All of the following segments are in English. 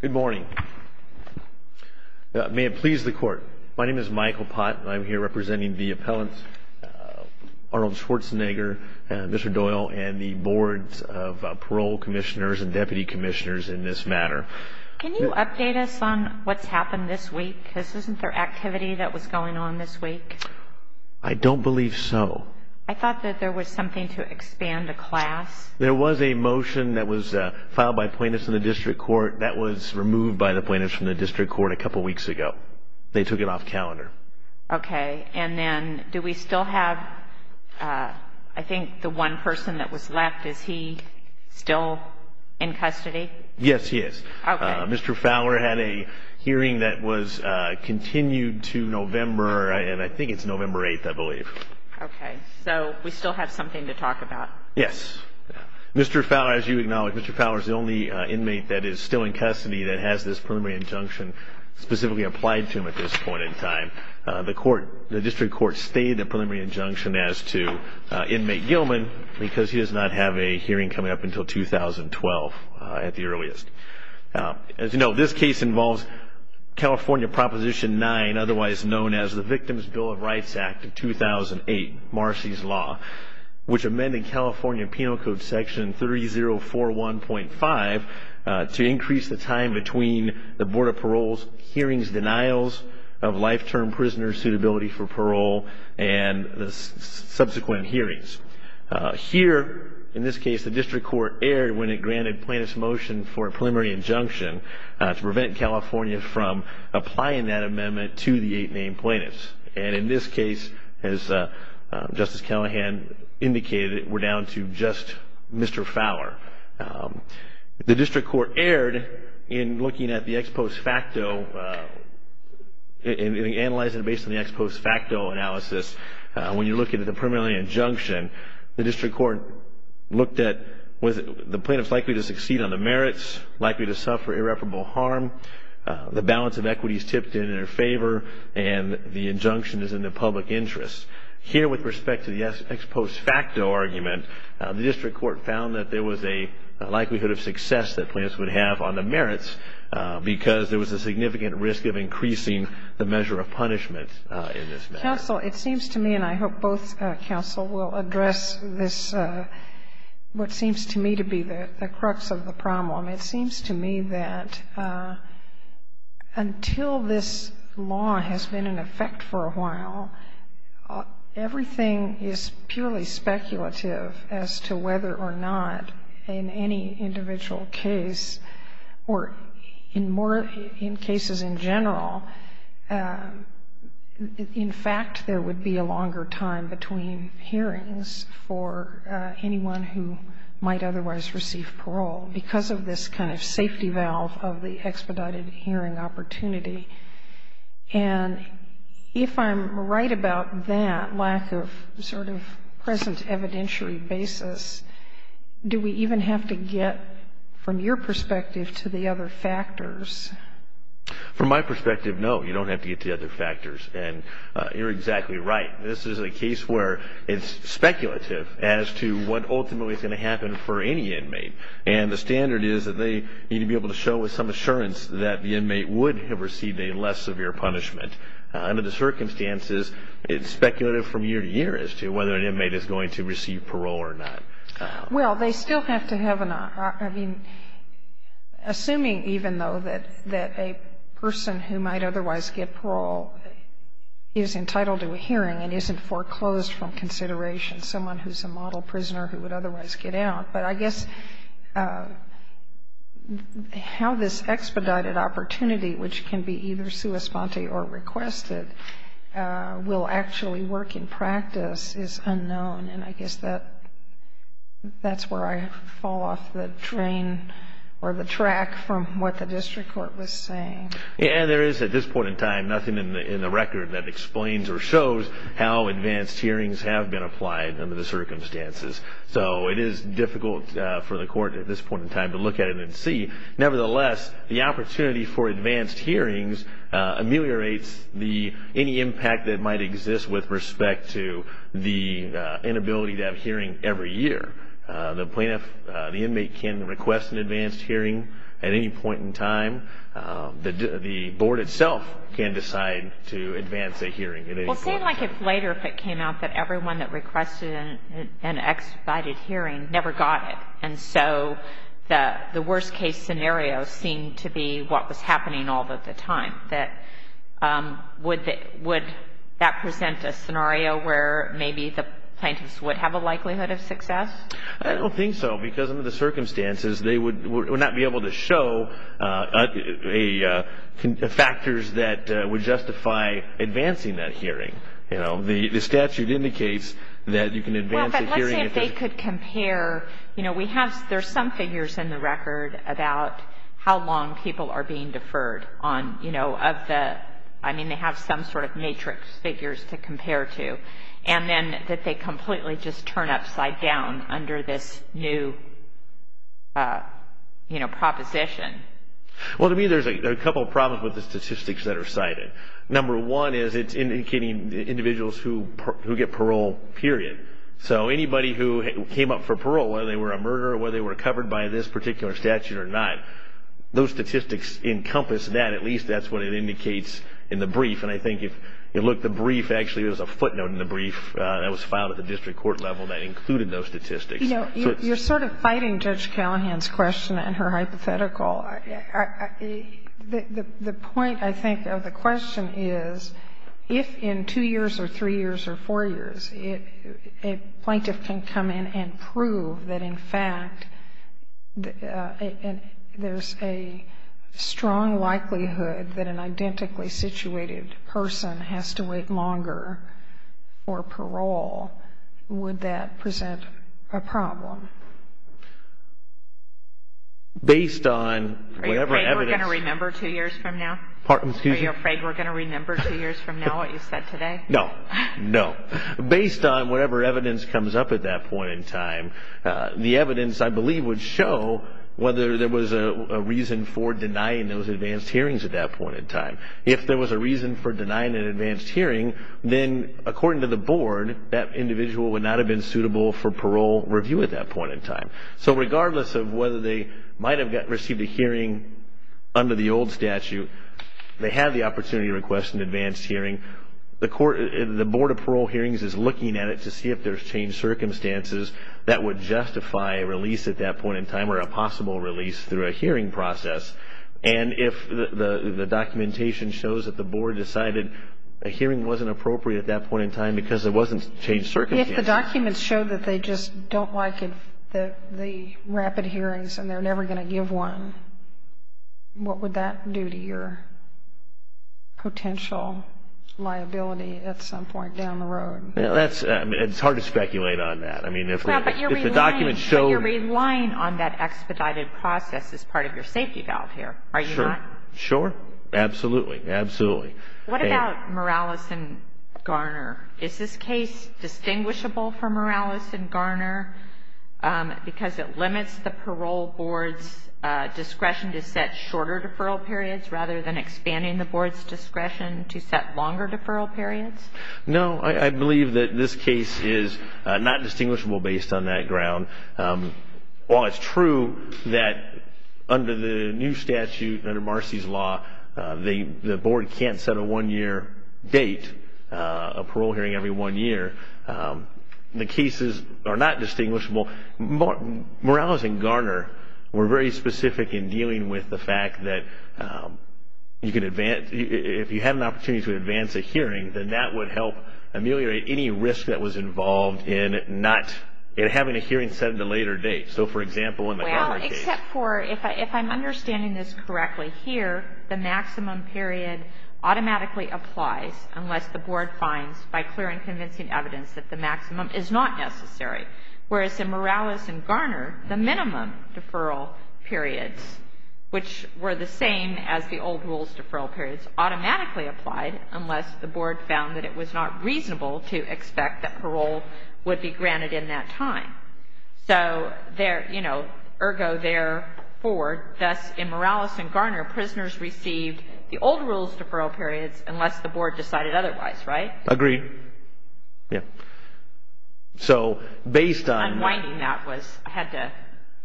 Good morning. May it please the court. My name is Michael Pott and I'm here representing the appellants Arnold Schwarzenegger, Mr. Doyle, and the boards of parole commissioners and deputy commissioners in this matter. Can you update us on what's happened this week? Because isn't there activity that was going on this week? I don't believe so. I thought that there was something to expand the class. There was a motion that was filed by plaintiffs in the district court that was removed by the plaintiffs from the district court a couple weeks ago. They took it off calendar. Okay. And then do we still have, I think the one person that was left, is he still in custody? Yes, he is. Mr. Fowler had a hearing that was continued to November, and I think it's November 8th, I believe. Okay. So we still have something to talk about. Yes. Mr. Fowler, as you acknowledge, Mr. Fowler is the only inmate that is still in custody that has this preliminary injunction specifically applied to him at this point in time. The district court stayed the preliminary injunction as to inmate Gilman because he does not have a hearing coming up until 2012 at the earliest. As you know, this case involves California Proposition 9, otherwise known as the Victims' Bill of Rights Act of 2008, Marcy's Law, which amended California Penal Code Section 3041.5 to increase the time between the Board of Parole's hearings denials of life-term prisoner suitability for parole and the subsequent hearings. Here, in this case, the district court erred when it granted plaintiff's motion for a preliminary injunction to prevent California from applying that amendment to the eight named plaintiffs. And in this case, as Justice Callahan indicated, we're down to just Mr. Fowler. The district court erred in looking at the ex post facto, in analyzing it based on the ex post facto analysis. When you look at the preliminary injunction, the district court looked at was the plaintiff likely to succeed on the merits, likely to suffer irreparable harm, the balance of equity is tipped in their favor, and the injunction is in the public interest. Here, with respect to the ex post facto argument, the district court found that there was a likelihood of success that plaintiffs would have on the merits, because there was a significant risk of increasing the measure of punishment in this matter. Counsel, it seems to me, and I hope both counsel will address this, what seems to me to be the crux of the problem. It seems to me that until this law has been in effect for a while, everything is purely speculative as to whether or not in any individual case, or in more cases in general, in fact, there would be a longer time between hearings for anyone who might otherwise receive parole, because of this kind of safety valve of the expedited hearing opportunity. And if I'm right about that lack of sort of present evidentiary basis, do we even have to get from your perspective to the other factors? From my perspective, no, you don't have to get to the other factors. And you're exactly right. This is a case where it's speculative as to what ultimately is going to happen for any inmate. And the standard is that they need to be able to show with some assurance that the inmate would have received a less severe punishment. Under the circumstances, it's speculative from year to year as to whether an inmate is going to receive parole or not. Well, they still have to have an, I mean, assuming even though that a person who might otherwise get parole is entitled to a hearing and isn't foreclosed from consideration, someone who's a model prisoner who would otherwise get out. But I guess how this expedited opportunity, which can be either sua sponte or requested, will actually work in practice is unknown. And I guess that's where I fall off the train or the track from what the district court was saying. Yeah, there is at this point in time nothing in the record that explains or shows how advanced hearings have been applied under the circumstances. So it is difficult for the court at this point in time to look at it and see. Nevertheless, the opportunity for advanced hearings ameliorates any impact that might exist with respect to the inability to have hearing every year. The plaintiff, the inmate, can request an advanced hearing at any point in time. The board itself can decide to advance a hearing at any point. Well, say like if later if it came out that everyone that requested an expedited hearing never got it. And so the worst case scenario seemed to be what was happening all of the time. Would that present a scenario where maybe the plaintiffs would have a likelihood of success? I don't think so because under the circumstances they would not be able to show factors that would justify advancing that hearing. The statute indicates that you can advance a hearing. I'm just saying if they could compare, you know, we have, there's some figures in the record about how long people are being deferred on, you know, of the, I mean they have some sort of matrix figures to compare to. And then that they completely just turn upside down under this new, you know, proposition. Well, to me there's a couple of problems with the statistics that are cited. Number one is it's indicating individuals who get parole, period. So anybody who came up for parole, whether they were a murderer or whether they were covered by this particular statute or not, those statistics encompass that, at least that's what it indicates in the brief. And I think if you look at the brief, actually there's a footnote in the brief that was filed at the district court level that included those statistics. You know, you're sort of fighting Judge Callahan's question and her hypothetical. The point, I think, of the question is if in two years or three years or four years a plaintiff can come in and prove that in fact there's a strong likelihood that an identically situated person has to wait longer for parole, based on whatever evidence. Are you afraid we're going to remember two years from now? Pardon, excuse me? Are you afraid we're going to remember two years from now what you said today? No, no. Based on whatever evidence comes up at that point in time, the evidence I believe would show whether there was a reason for denying those advanced hearings at that point in time. If there was a reason for denying an advanced hearing, then according to the board, that individual would not have been suitable for parole review at that point in time. So regardless of whether they might have received a hearing under the old statute, they had the opportunity to request an advanced hearing. The board of parole hearings is looking at it to see if there's changed circumstances that would justify a release at that point in time or a possible release through a hearing process. And if the documentation shows that the board decided a hearing wasn't appropriate at that point in time because there wasn't changed circumstances. If the documents show that they just don't like the rapid hearings and they're never going to give one, what would that do to your potential liability at some point down the road? It's hard to speculate on that. But you're relying on that expedited process as part of your safety valve here, are you not? Sure. Absolutely. What about Morales and Garner? Is this case distinguishable for Morales and Garner because it limits the parole board's discretion to set shorter deferral periods rather than expanding the board's discretion to set longer deferral periods? No, I believe that this case is not distinguishable based on that ground. While it's true that under the new statute, under Marcy's law, the board can't set a one-year date, a parole hearing every one year, the cases are not distinguishable. Morales and Garner were very specific in dealing with the fact that if you had an opportunity to advance a hearing, then that would help ameliorate any risk that was involved in having a hearing set at a later date. So, for example, in the Garner case. Well, except for, if I'm understanding this correctly here, the maximum period automatically applies unless the board finds, by clear and convincing evidence, that the maximum is not necessary. Whereas in Morales and Garner, the minimum deferral periods, which were the same as the old rules deferral periods, was automatically applied unless the board found that it was not reasonable to expect that parole would be granted in that time. So, you know, ergo therefore, thus in Morales and Garner, prisoners received the old rules deferral periods unless the board decided otherwise, right? Agreed. Yeah. So, based on... I'm winding that. I had to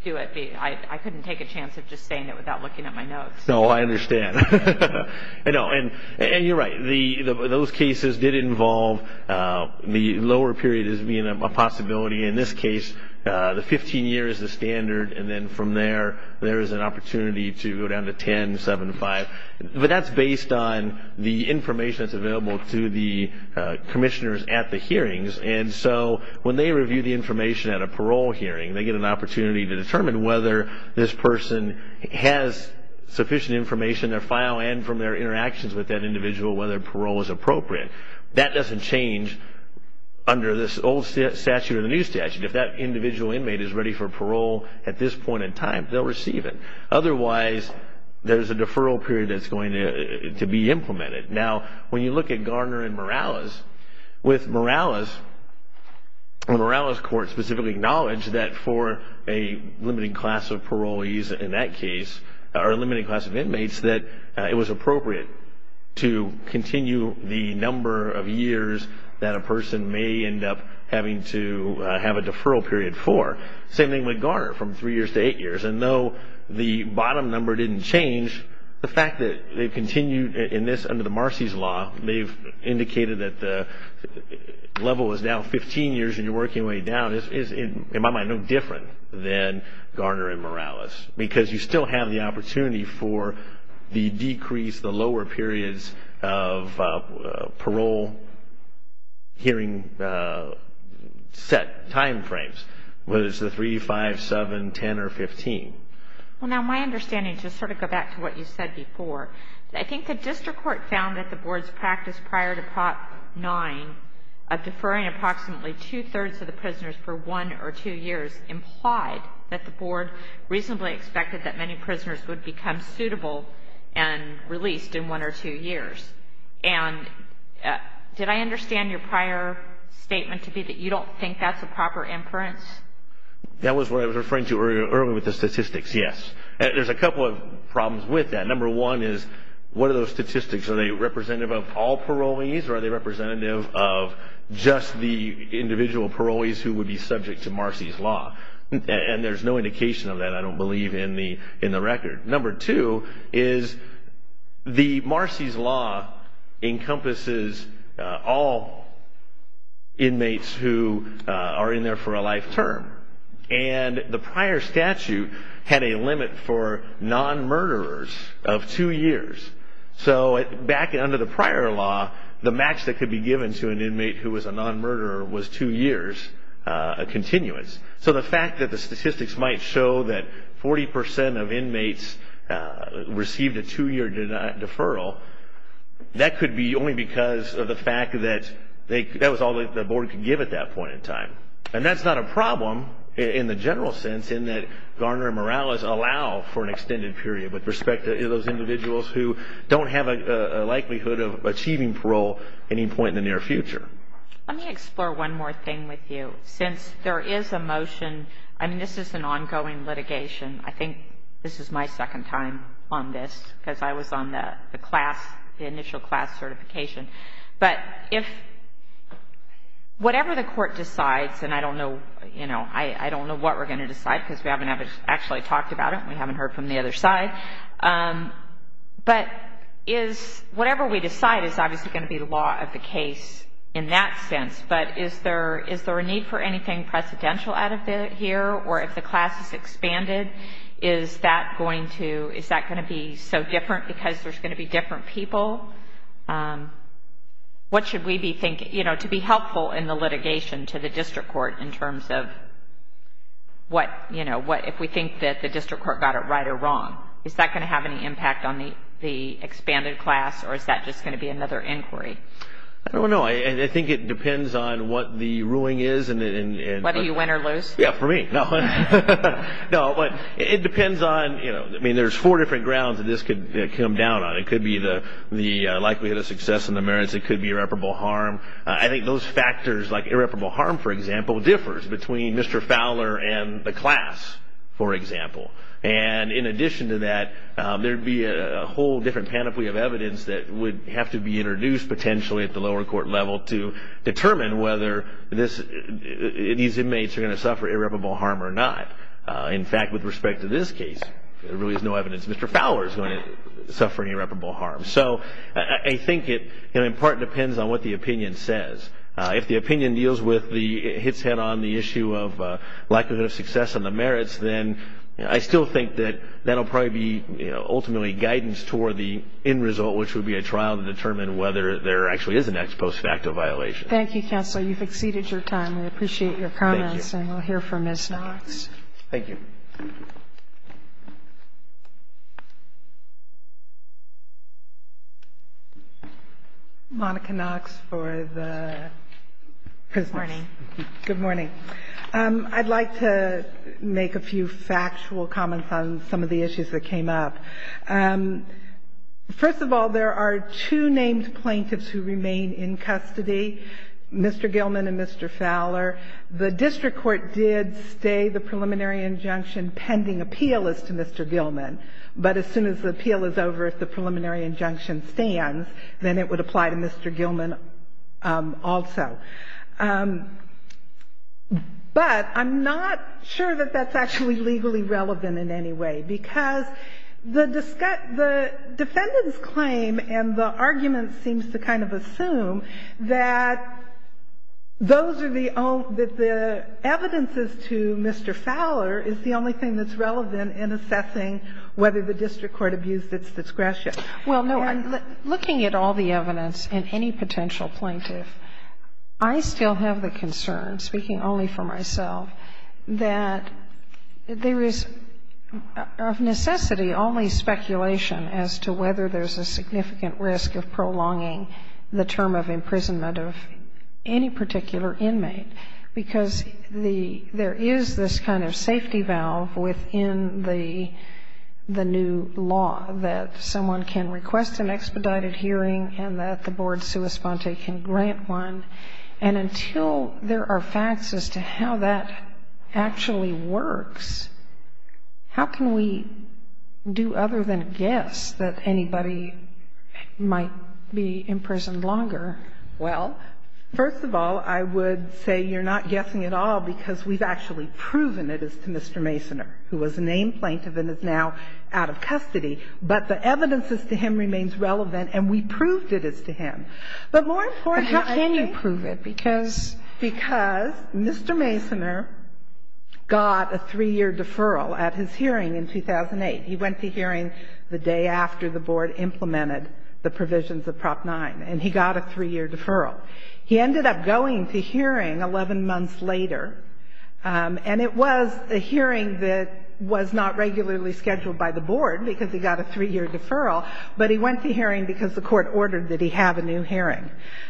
do it. I couldn't take a chance of just saying it without looking at my notes. No, I understand. I know, and you're right. Those cases did involve the lower period as being a possibility. In this case, the 15 years is the standard, and then from there, there is an opportunity to go down to 10, 7, 5. But that's based on the information that's available to the commissioners at the hearings. And so when they review the information at a parole hearing, they get an opportunity to determine whether this person has sufficient information in their file and from their interactions with that individual whether parole is appropriate. That doesn't change under this old statute or the new statute. If that individual inmate is ready for parole at this point in time, they'll receive it. Otherwise, there's a deferral period that's going to be implemented. Now, when you look at Garner and Morales, with Morales, Morales Court specifically acknowledged that for a limiting class of parolees in that case, or a limiting class of inmates, that it was appropriate to continue the number of years that a person may end up having to have a deferral period for. Same thing with Garner, from 3 years to 8 years. And though the bottom number didn't change, the fact that they've continued in this under the Marcy's Law, they've indicated that the level is now 15 years and you're working your way down, is in my mind no different than Garner and Morales. Because you still have the opportunity for the decrease, the lower periods of parole hearing set time frames, whether it's the 3, 5, 7, 10, or 15. Well, now my understanding, just sort of go back to what you said before, I think the district court found that the board's practice prior to Prop 9 of deferring approximately two-thirds of the prisoners for 1 or 2 years implied that the board reasonably expected that many prisoners would become suitable and released in 1 or 2 years. And did I understand your prior statement to be that you don't think that's a proper inference? That was what I was referring to earlier with the statistics, yes. There's a couple of problems with that. Number one is what are those statistics? Are they representative of all parolees or are they representative of just the individual parolees who would be subject to Marcy's Law? And there's no indication of that, I don't believe, in the record. Number two is the Marcy's Law encompasses all inmates who are in there for a life term. And the prior statute had a limit for non-murderers of 2 years. So back under the prior law, the max that could be given to an inmate who was a non-murderer was 2 years, a continuance. So the fact that the statistics might show that 40% of inmates received a 2-year deferral, that could be only because of the fact that that was all the board could give at that point in time. And that's not a problem in the general sense in that Garner and Morales allow for an extended period with respect to those individuals who don't have a likelihood of achieving parole at any point in the near future. Let me explore one more thing with you. Since there is a motion, I mean, this is an ongoing litigation. I think this is my second time on this because I was on the class, the initial class certification. But if whatever the court decides, and I don't know what we're going to decide because we haven't actually talked about it and we haven't heard from the other side. But whatever we decide is obviously going to be the law of the case in that sense. But is there a need for anything precedential out of it here? Or if the class is expanded, is that going to be so different because there's going to be different people? What should we be thinking? You know, to be helpful in the litigation to the district court in terms of what, you know, if we think that the district court got it right or wrong. Is that going to have any impact on the expanded class or is that just going to be another inquiry? I don't know. I think it depends on what the ruling is. Whether you win or lose? Yeah, for me. No, but it depends on, you know, I mean, there's four different grounds that this could come down on. It could be the likelihood of success and the merits. It could be irreparable harm. I think those factors like irreparable harm, for example, differs between Mr. Fowler and the class, for example. And in addition to that, there would be a whole different panoply of evidence that would have to be introduced potentially at the lower court level to determine whether these inmates are going to suffer irreparable harm or not. In fact, with respect to this case, there really is no evidence Mr. Fowler is going to suffer irreparable harm. So I think it in part depends on what the opinion says. If the opinion hits head on the issue of likelihood of success and the merits, then I still think that that will probably be ultimately guidance toward the end result, which would be a trial to determine whether there actually is an ex post facto violation. Thank you, Counselor. You've exceeded your time. We appreciate your comments and we'll hear from Ms. Knox. Thank you. Monica Knox for the prisoners. Good morning. I'd like to make a few factual comments on some of the issues that came up. First of all, there are two named plaintiffs who remain in custody, Mr. Gilman and Mr. Fowler. The district court did stay the preliminary injunction pending appeal as to Mr. Gilman, but as soon as the appeal is over, if the preliminary injunction stands, then it would apply to Mr. Gilman also. But I'm not sure that that's actually legally relevant in any way, because the defendant's claim and the argument seems to kind of assume that those are the own – that the evidences to Mr. Fowler is the only thing that's relevant in assessing whether the district court abused its discretion. Well, no. Looking at all the evidence in any potential plaintiff, I still have the concern, speaking only for myself, that there is of necessity only speculation as to whether there's a significant risk of prolonging the term of imprisonment of any particular inmate, because there is this kind of safety valve within the new law that someone can request an expedited hearing and that the board sua sponte can grant one. And until there are facts as to how that actually works, how can we do other than guess that anybody might be imprisoned longer? Well, first of all, I would say you're not guessing at all because we've actually proven it is to Mr. Masoner, who was a named plaintiff and is now out of custody. But the evidence as to him remains relevant, and we proved it is to him. But more important, how can you prove it? Because Mr. Masoner got a three-year deferral at his hearing in 2008. He went to hearing the day after the board implemented the provisions of Prop 9, and he got a three-year deferral. He ended up going to hearing 11 months later, and it was a hearing that was not regularly scheduled by the board because he got a three-year deferral, but he went to hearing because the court ordered that he have a new hearing.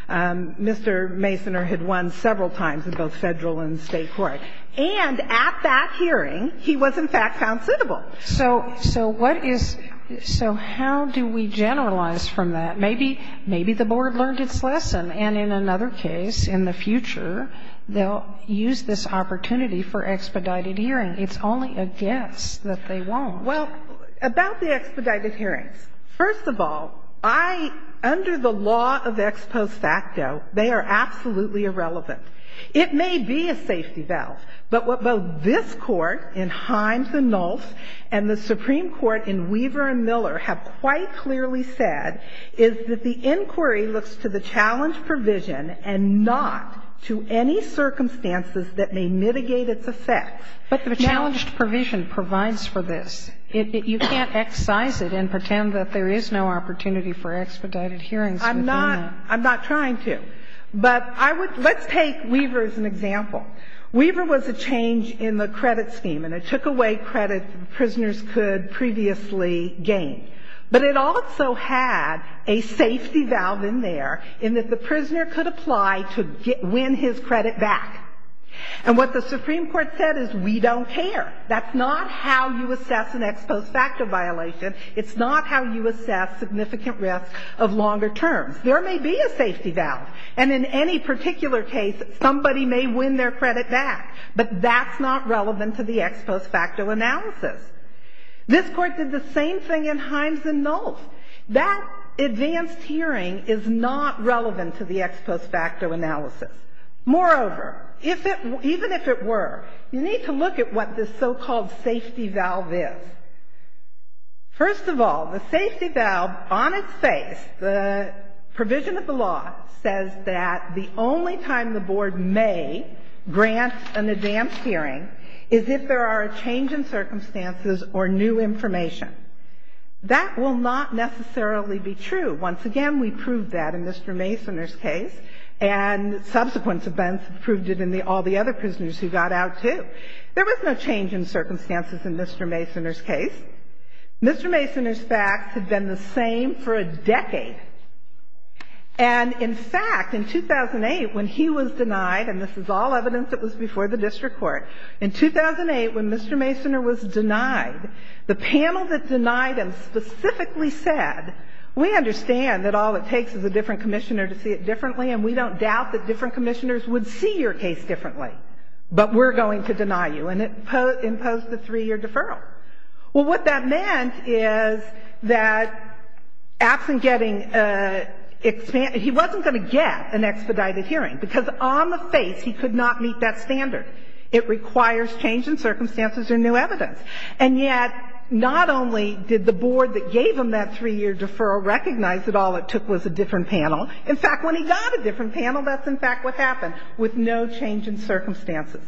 Mr. Masoner had won several times in both Federal and State court. And at that hearing, he was, in fact, found suitable. So what is — so how do we generalize from that? Maybe the board learned its lesson, and in another case, in the future, they'll use this opportunity for expedited hearing. It's only a guess that they won't. Well, about the expedited hearings, first of all, I — under the law of ex post facto, they are absolutely irrelevant. It may be a safety valve, but what both this Court in Himes and Nulse and the Supreme Court in Weaver and Miller have quite clearly said is that the inquiry looks to the challenge provision and not to any circumstances that may mitigate its effects. But the challenged provision provides for this. You can't excise it and pretend that there is no opportunity for expedited hearings within the law. I'm not — I'm not trying to. But I would — let's take Weaver as an example. Weaver was a change in the credit scheme, and it took away credit that prisoners could previously gain. But it also had a safety valve in there in that the prisoner could apply to win his credit back. And what the Supreme Court said is we don't care. That's not how you assess an ex post facto violation. It's not how you assess significant risk of longer terms. There may be a safety valve, and in any particular case, somebody may win their credit back. But that's not relevant to the ex post facto analysis. This Court did the same thing in Himes and Nulse. That advanced hearing is not relevant to the ex post facto analysis. Moreover, if it — even if it were, you need to look at what this so-called safety valve is. First of all, the safety valve on its face, the provision of the law, says that the only time the board may grant an advanced hearing is if there are a change in circumstances or new information. That will not necessarily be true. Once again, we proved that in Mr. Masoner's case, and subsequent events proved it in all the other prisoners who got out, too. There was no change in circumstances in Mr. Masoner's case. And in fact, in 2008, when he was denied, and this is all evidence that was before the district court, in 2008, when Mr. Masoner was denied, the panel that denied him specifically said, we understand that all it takes is a different commissioner to see it differently, and we don't doubt that different commissioners would see your case differently, but we're going to deny you. And it imposed a three-year deferral. Well, what that meant is that absent getting a he wasn't going to get an expedited hearing, because on the face he could not meet that standard. It requires change in circumstances or new evidence. And yet, not only did the board that gave him that three-year deferral recognize that all it took was a different panel. In fact, when he got a different panel, that's in fact what happened, with no change in circumstances.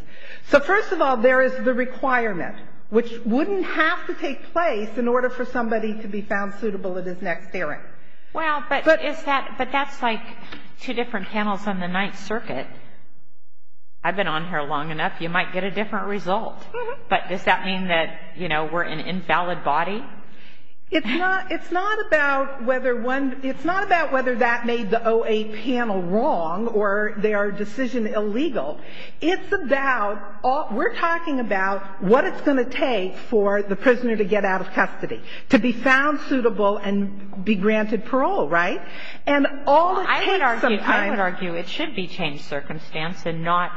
So first of all, there is the requirement, which wouldn't have to take place in order for somebody to be found suitable at his next hearing. Well, but is that, but that's like two different panels on the Ninth Circuit. I've been on here long enough. You might get a different result. But does that mean that, you know, we're an invalid body? It's not, it's not about whether one, it's not about whether that made the 08 panel wrong or their decision illegal. It's about, we're talking about what it's going to take for the prisoner to get out of custody, to be found suitable and be granted parole, right? And all it takes some time. I would argue it should be changed circumstance and not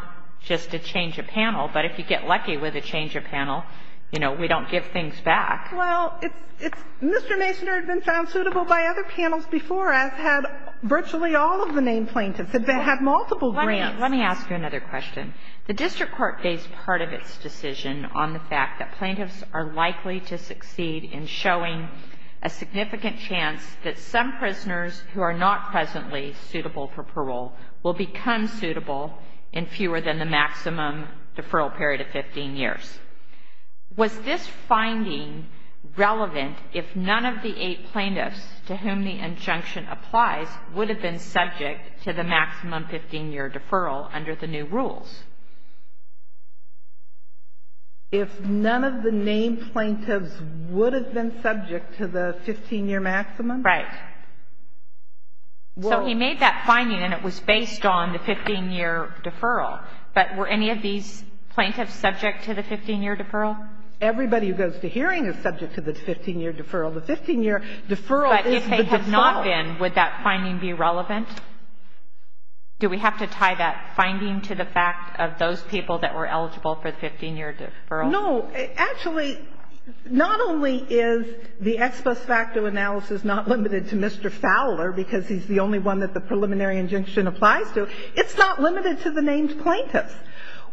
just a change of panel. But if you get lucky with a change of panel, you know, we don't give things back. Well, it's, it's, Mr. Masoner had been found suitable by other panels before us, had virtually all of the named plaintiffs, had had multiple grants. Let me ask you another question. The district court based part of its decision on the fact that plaintiffs are likely to succeed in showing a significant chance that some prisoners who are not presently suitable for parole will become suitable in fewer than the maximum deferral period of 15 years. Was this finding relevant if none of the eight plaintiffs to whom the injunction applies would have been subject to the maximum 15-year deferral under the new rules? If none of the named plaintiffs would have been subject to the 15-year maximum? Right. So we made that finding and it was based on the 15-year deferral. But were any of these plaintiffs subject to the 15-year deferral? Everybody who goes to hearing is subject to the 15-year deferral. The 15-year deferral is the default. If they were all in, would that finding be relevant? Do we have to tie that finding to the fact of those people that were eligible for the 15-year deferral? No. Actually, not only is the ex post facto analysis not limited to Mr. Fowler, because he's the only one that the preliminary injunction applies to, it's not limited to the named plaintiffs.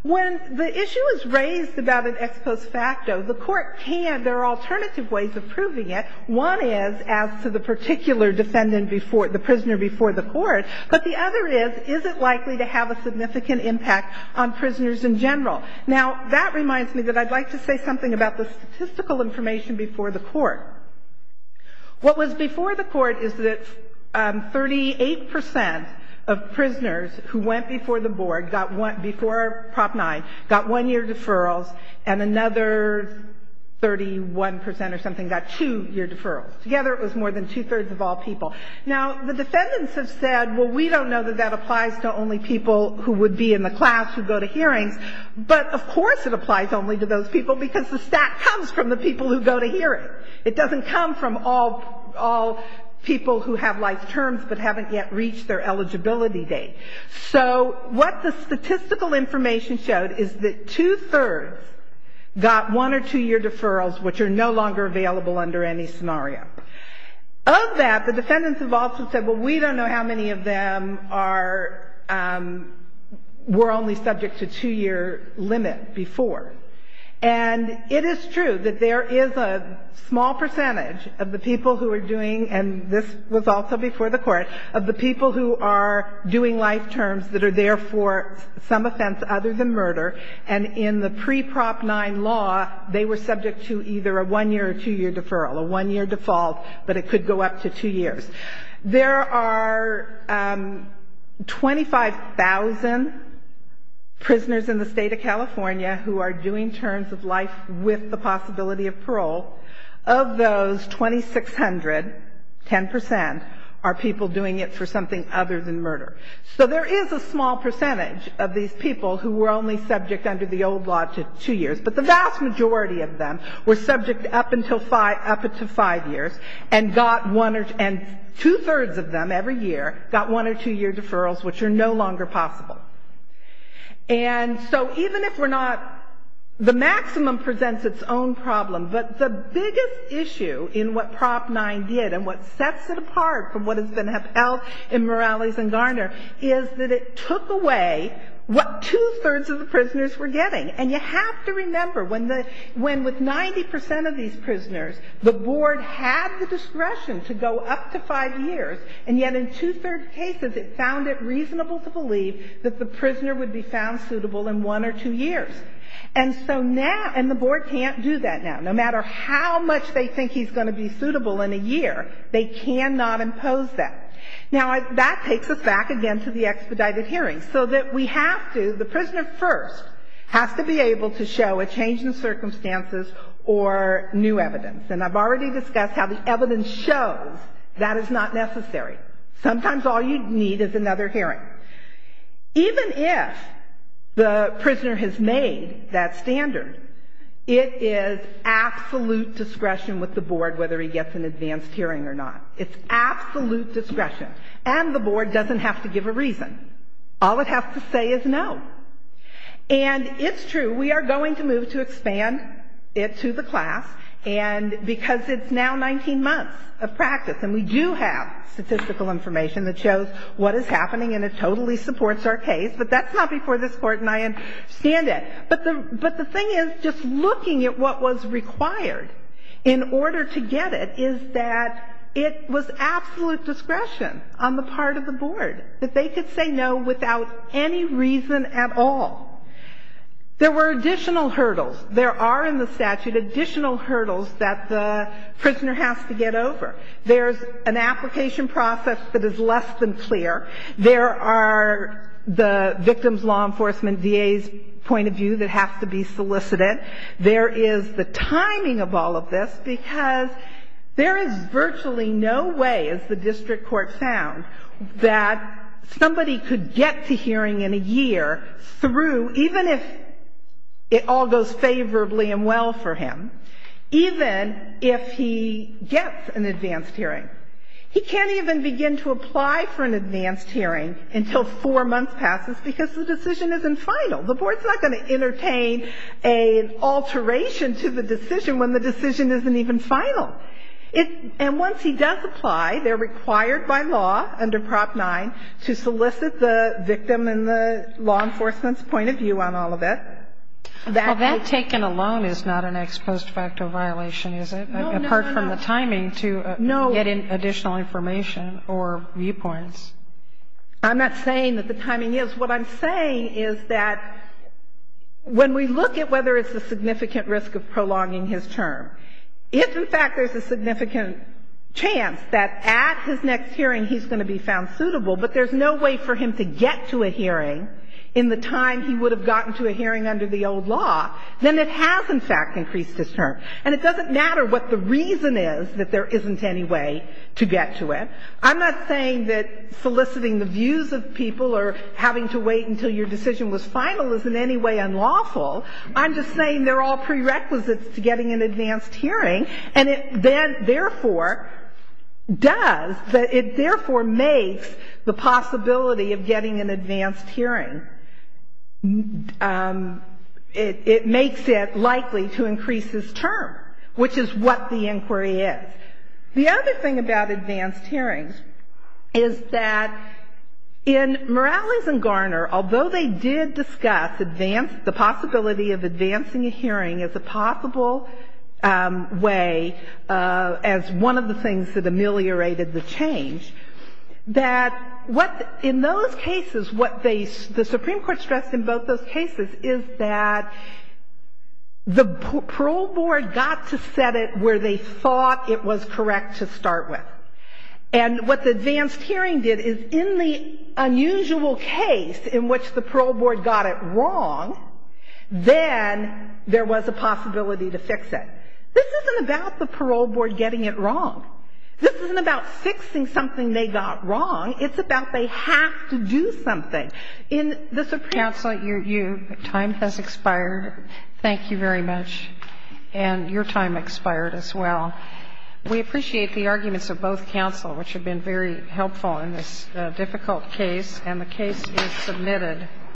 When the issue is raised about an ex post facto, the court can, there are alternative ways of proving it. One is as to the particular defendant before, the prisoner before the court. But the other is, is it likely to have a significant impact on prisoners in general? Now, that reminds me that I'd like to say something about the statistical information before the court. What was before the court is that 38 percent of prisoners who went before the board got one, before Prop 9, got one-year deferrals, and another 31 percent or something got two-year deferrals. Together, it was more than two-thirds of all people. Now, the defendants have said, well, we don't know that that applies to only people who would be in the class who go to hearings. But of course it applies only to those people, because the stat comes from the people who go to hearings. It doesn't come from all people who have life terms but haven't yet reached their eligibility date. So what the statistical information showed is that two-thirds got one or two-year deferrals, which are no longer available under any scenario. Of that, the defendants have also said, well, we don't know how many of them are – were only subject to two-year limit before. And it is true that there is a small percentage of the people who are doing – and this was also before the court – of the people who are doing life terms that are there for some offense other than murder. And in the pre-Prop 9 law, they were subject to either a one-year or two-year deferral, a one-year default, but it could go up to two years. There are 25,000 prisoners in the State of California who are doing terms of life with the possibility of parole. Of those, 2,600, 10 percent, are people doing it for something other than murder. So there is a small percentage of these people who were only subject under the old law to two years, but the vast majority of them were subject up until five years and got one – and two-thirds of them every year got one- or two-year deferrals, which are no longer possible. And so even if we're not – the maximum presents its own problem, but the biggest issue in what Prop 9 did and what sets it apart from what has been held in Morales and Garner is that it took away what two-thirds of the prisoners were getting. And you have to remember, when the – when with 90 percent of these prisoners, the board had the discretion to go up to five years, and yet in two-thirds cases it found it reasonable to believe that the prisoner would be found suitable in one or two years. And so now – and the board can't do that now. No matter how much they think he's going to be suitable in a year, they cannot impose that. Now, that takes us back again to the expedited hearings, so that we have to – the prisoner first has to be able to show a change in circumstances or new evidence. And I've already discussed how the evidence shows that is not necessary. Sometimes all you need is another hearing. Even if the prisoner has made that standard, it is absolute discretion with the board whether he gets an advanced hearing or not. It's absolute discretion. And the board doesn't have to give a reason. All it has to say is no. And it's true. We are going to move to expand it to the class, and because it's now 19 months of practice, and we do have statistical information that shows what is happening and it totally supports our case, but that's not before this Court and I understand But the thing is, just looking at what was required in order to get it, is that it was absolute discretion on the part of the board, that they could say no without any reason at all. There were additional hurdles. There are in the statute additional hurdles that the prisoner has to get over. There's an application process that is less than clear. There are the victim's law enforcement VA's point of view that has to be solicited. There is the timing of all of this, because there is virtually no way, as the district court found, that somebody could get to hearing in a year through, even if it all goes favorably and well for him, even if he gets an advanced hearing. He can't even begin to apply for an advanced hearing until four months passes, because the decision isn't final. The board is not going to entertain an alteration to the decision when the decision isn't even final. And once he does apply, they are required by law under Prop 9 to solicit the victim and the law enforcement's point of view on all of it. Kagan. Well, that taken alone is not an ex post facto violation, is it, apart from the timing to get additional information or viewpoints? I'm not saying that the timing is. What I'm saying is that when we look at whether it's a significant risk of prolonging his term, if in fact there's a significant chance that at his next hearing he's going to be found suitable, but there's no way for him to get to a hearing in the time he would have gotten to a hearing under the old law, then it has, in fact, increased his term. And it doesn't matter what the reason is that there isn't any way to get to it. I'm not saying that soliciting the views of people or having to wait until your decision was final is in any way unlawful. I'm just saying they're all prerequisites to getting an advanced hearing, and it then therefore does, it therefore makes the possibility of getting an advanced hearing it makes it likely to increase his term, which is what the inquiry is. The other thing about advanced hearings is that in Morales and Garner, although they did discuss advance, the possibility of advancing a hearing as a possible way, as one of the things that ameliorated the change, that what, in those cases, what they, the Supreme Court stressed in both those cases is that the parole board got to set it where they thought it was correct to start with. And what the advanced hearing did is in the unusual case in which the parole board got it wrong, then there was a possibility to fix it. This isn't about the parole board getting it wrong. This isn't about fixing something they got wrong. It's about they have to do something. In the Supreme Court, if as faculty members think of that as expected, counsel, your time has expired. Thank you very much. Your time expired as well. We appreciate the arguments of both counsel which have been very helpful in this Is that your understanding? Yes.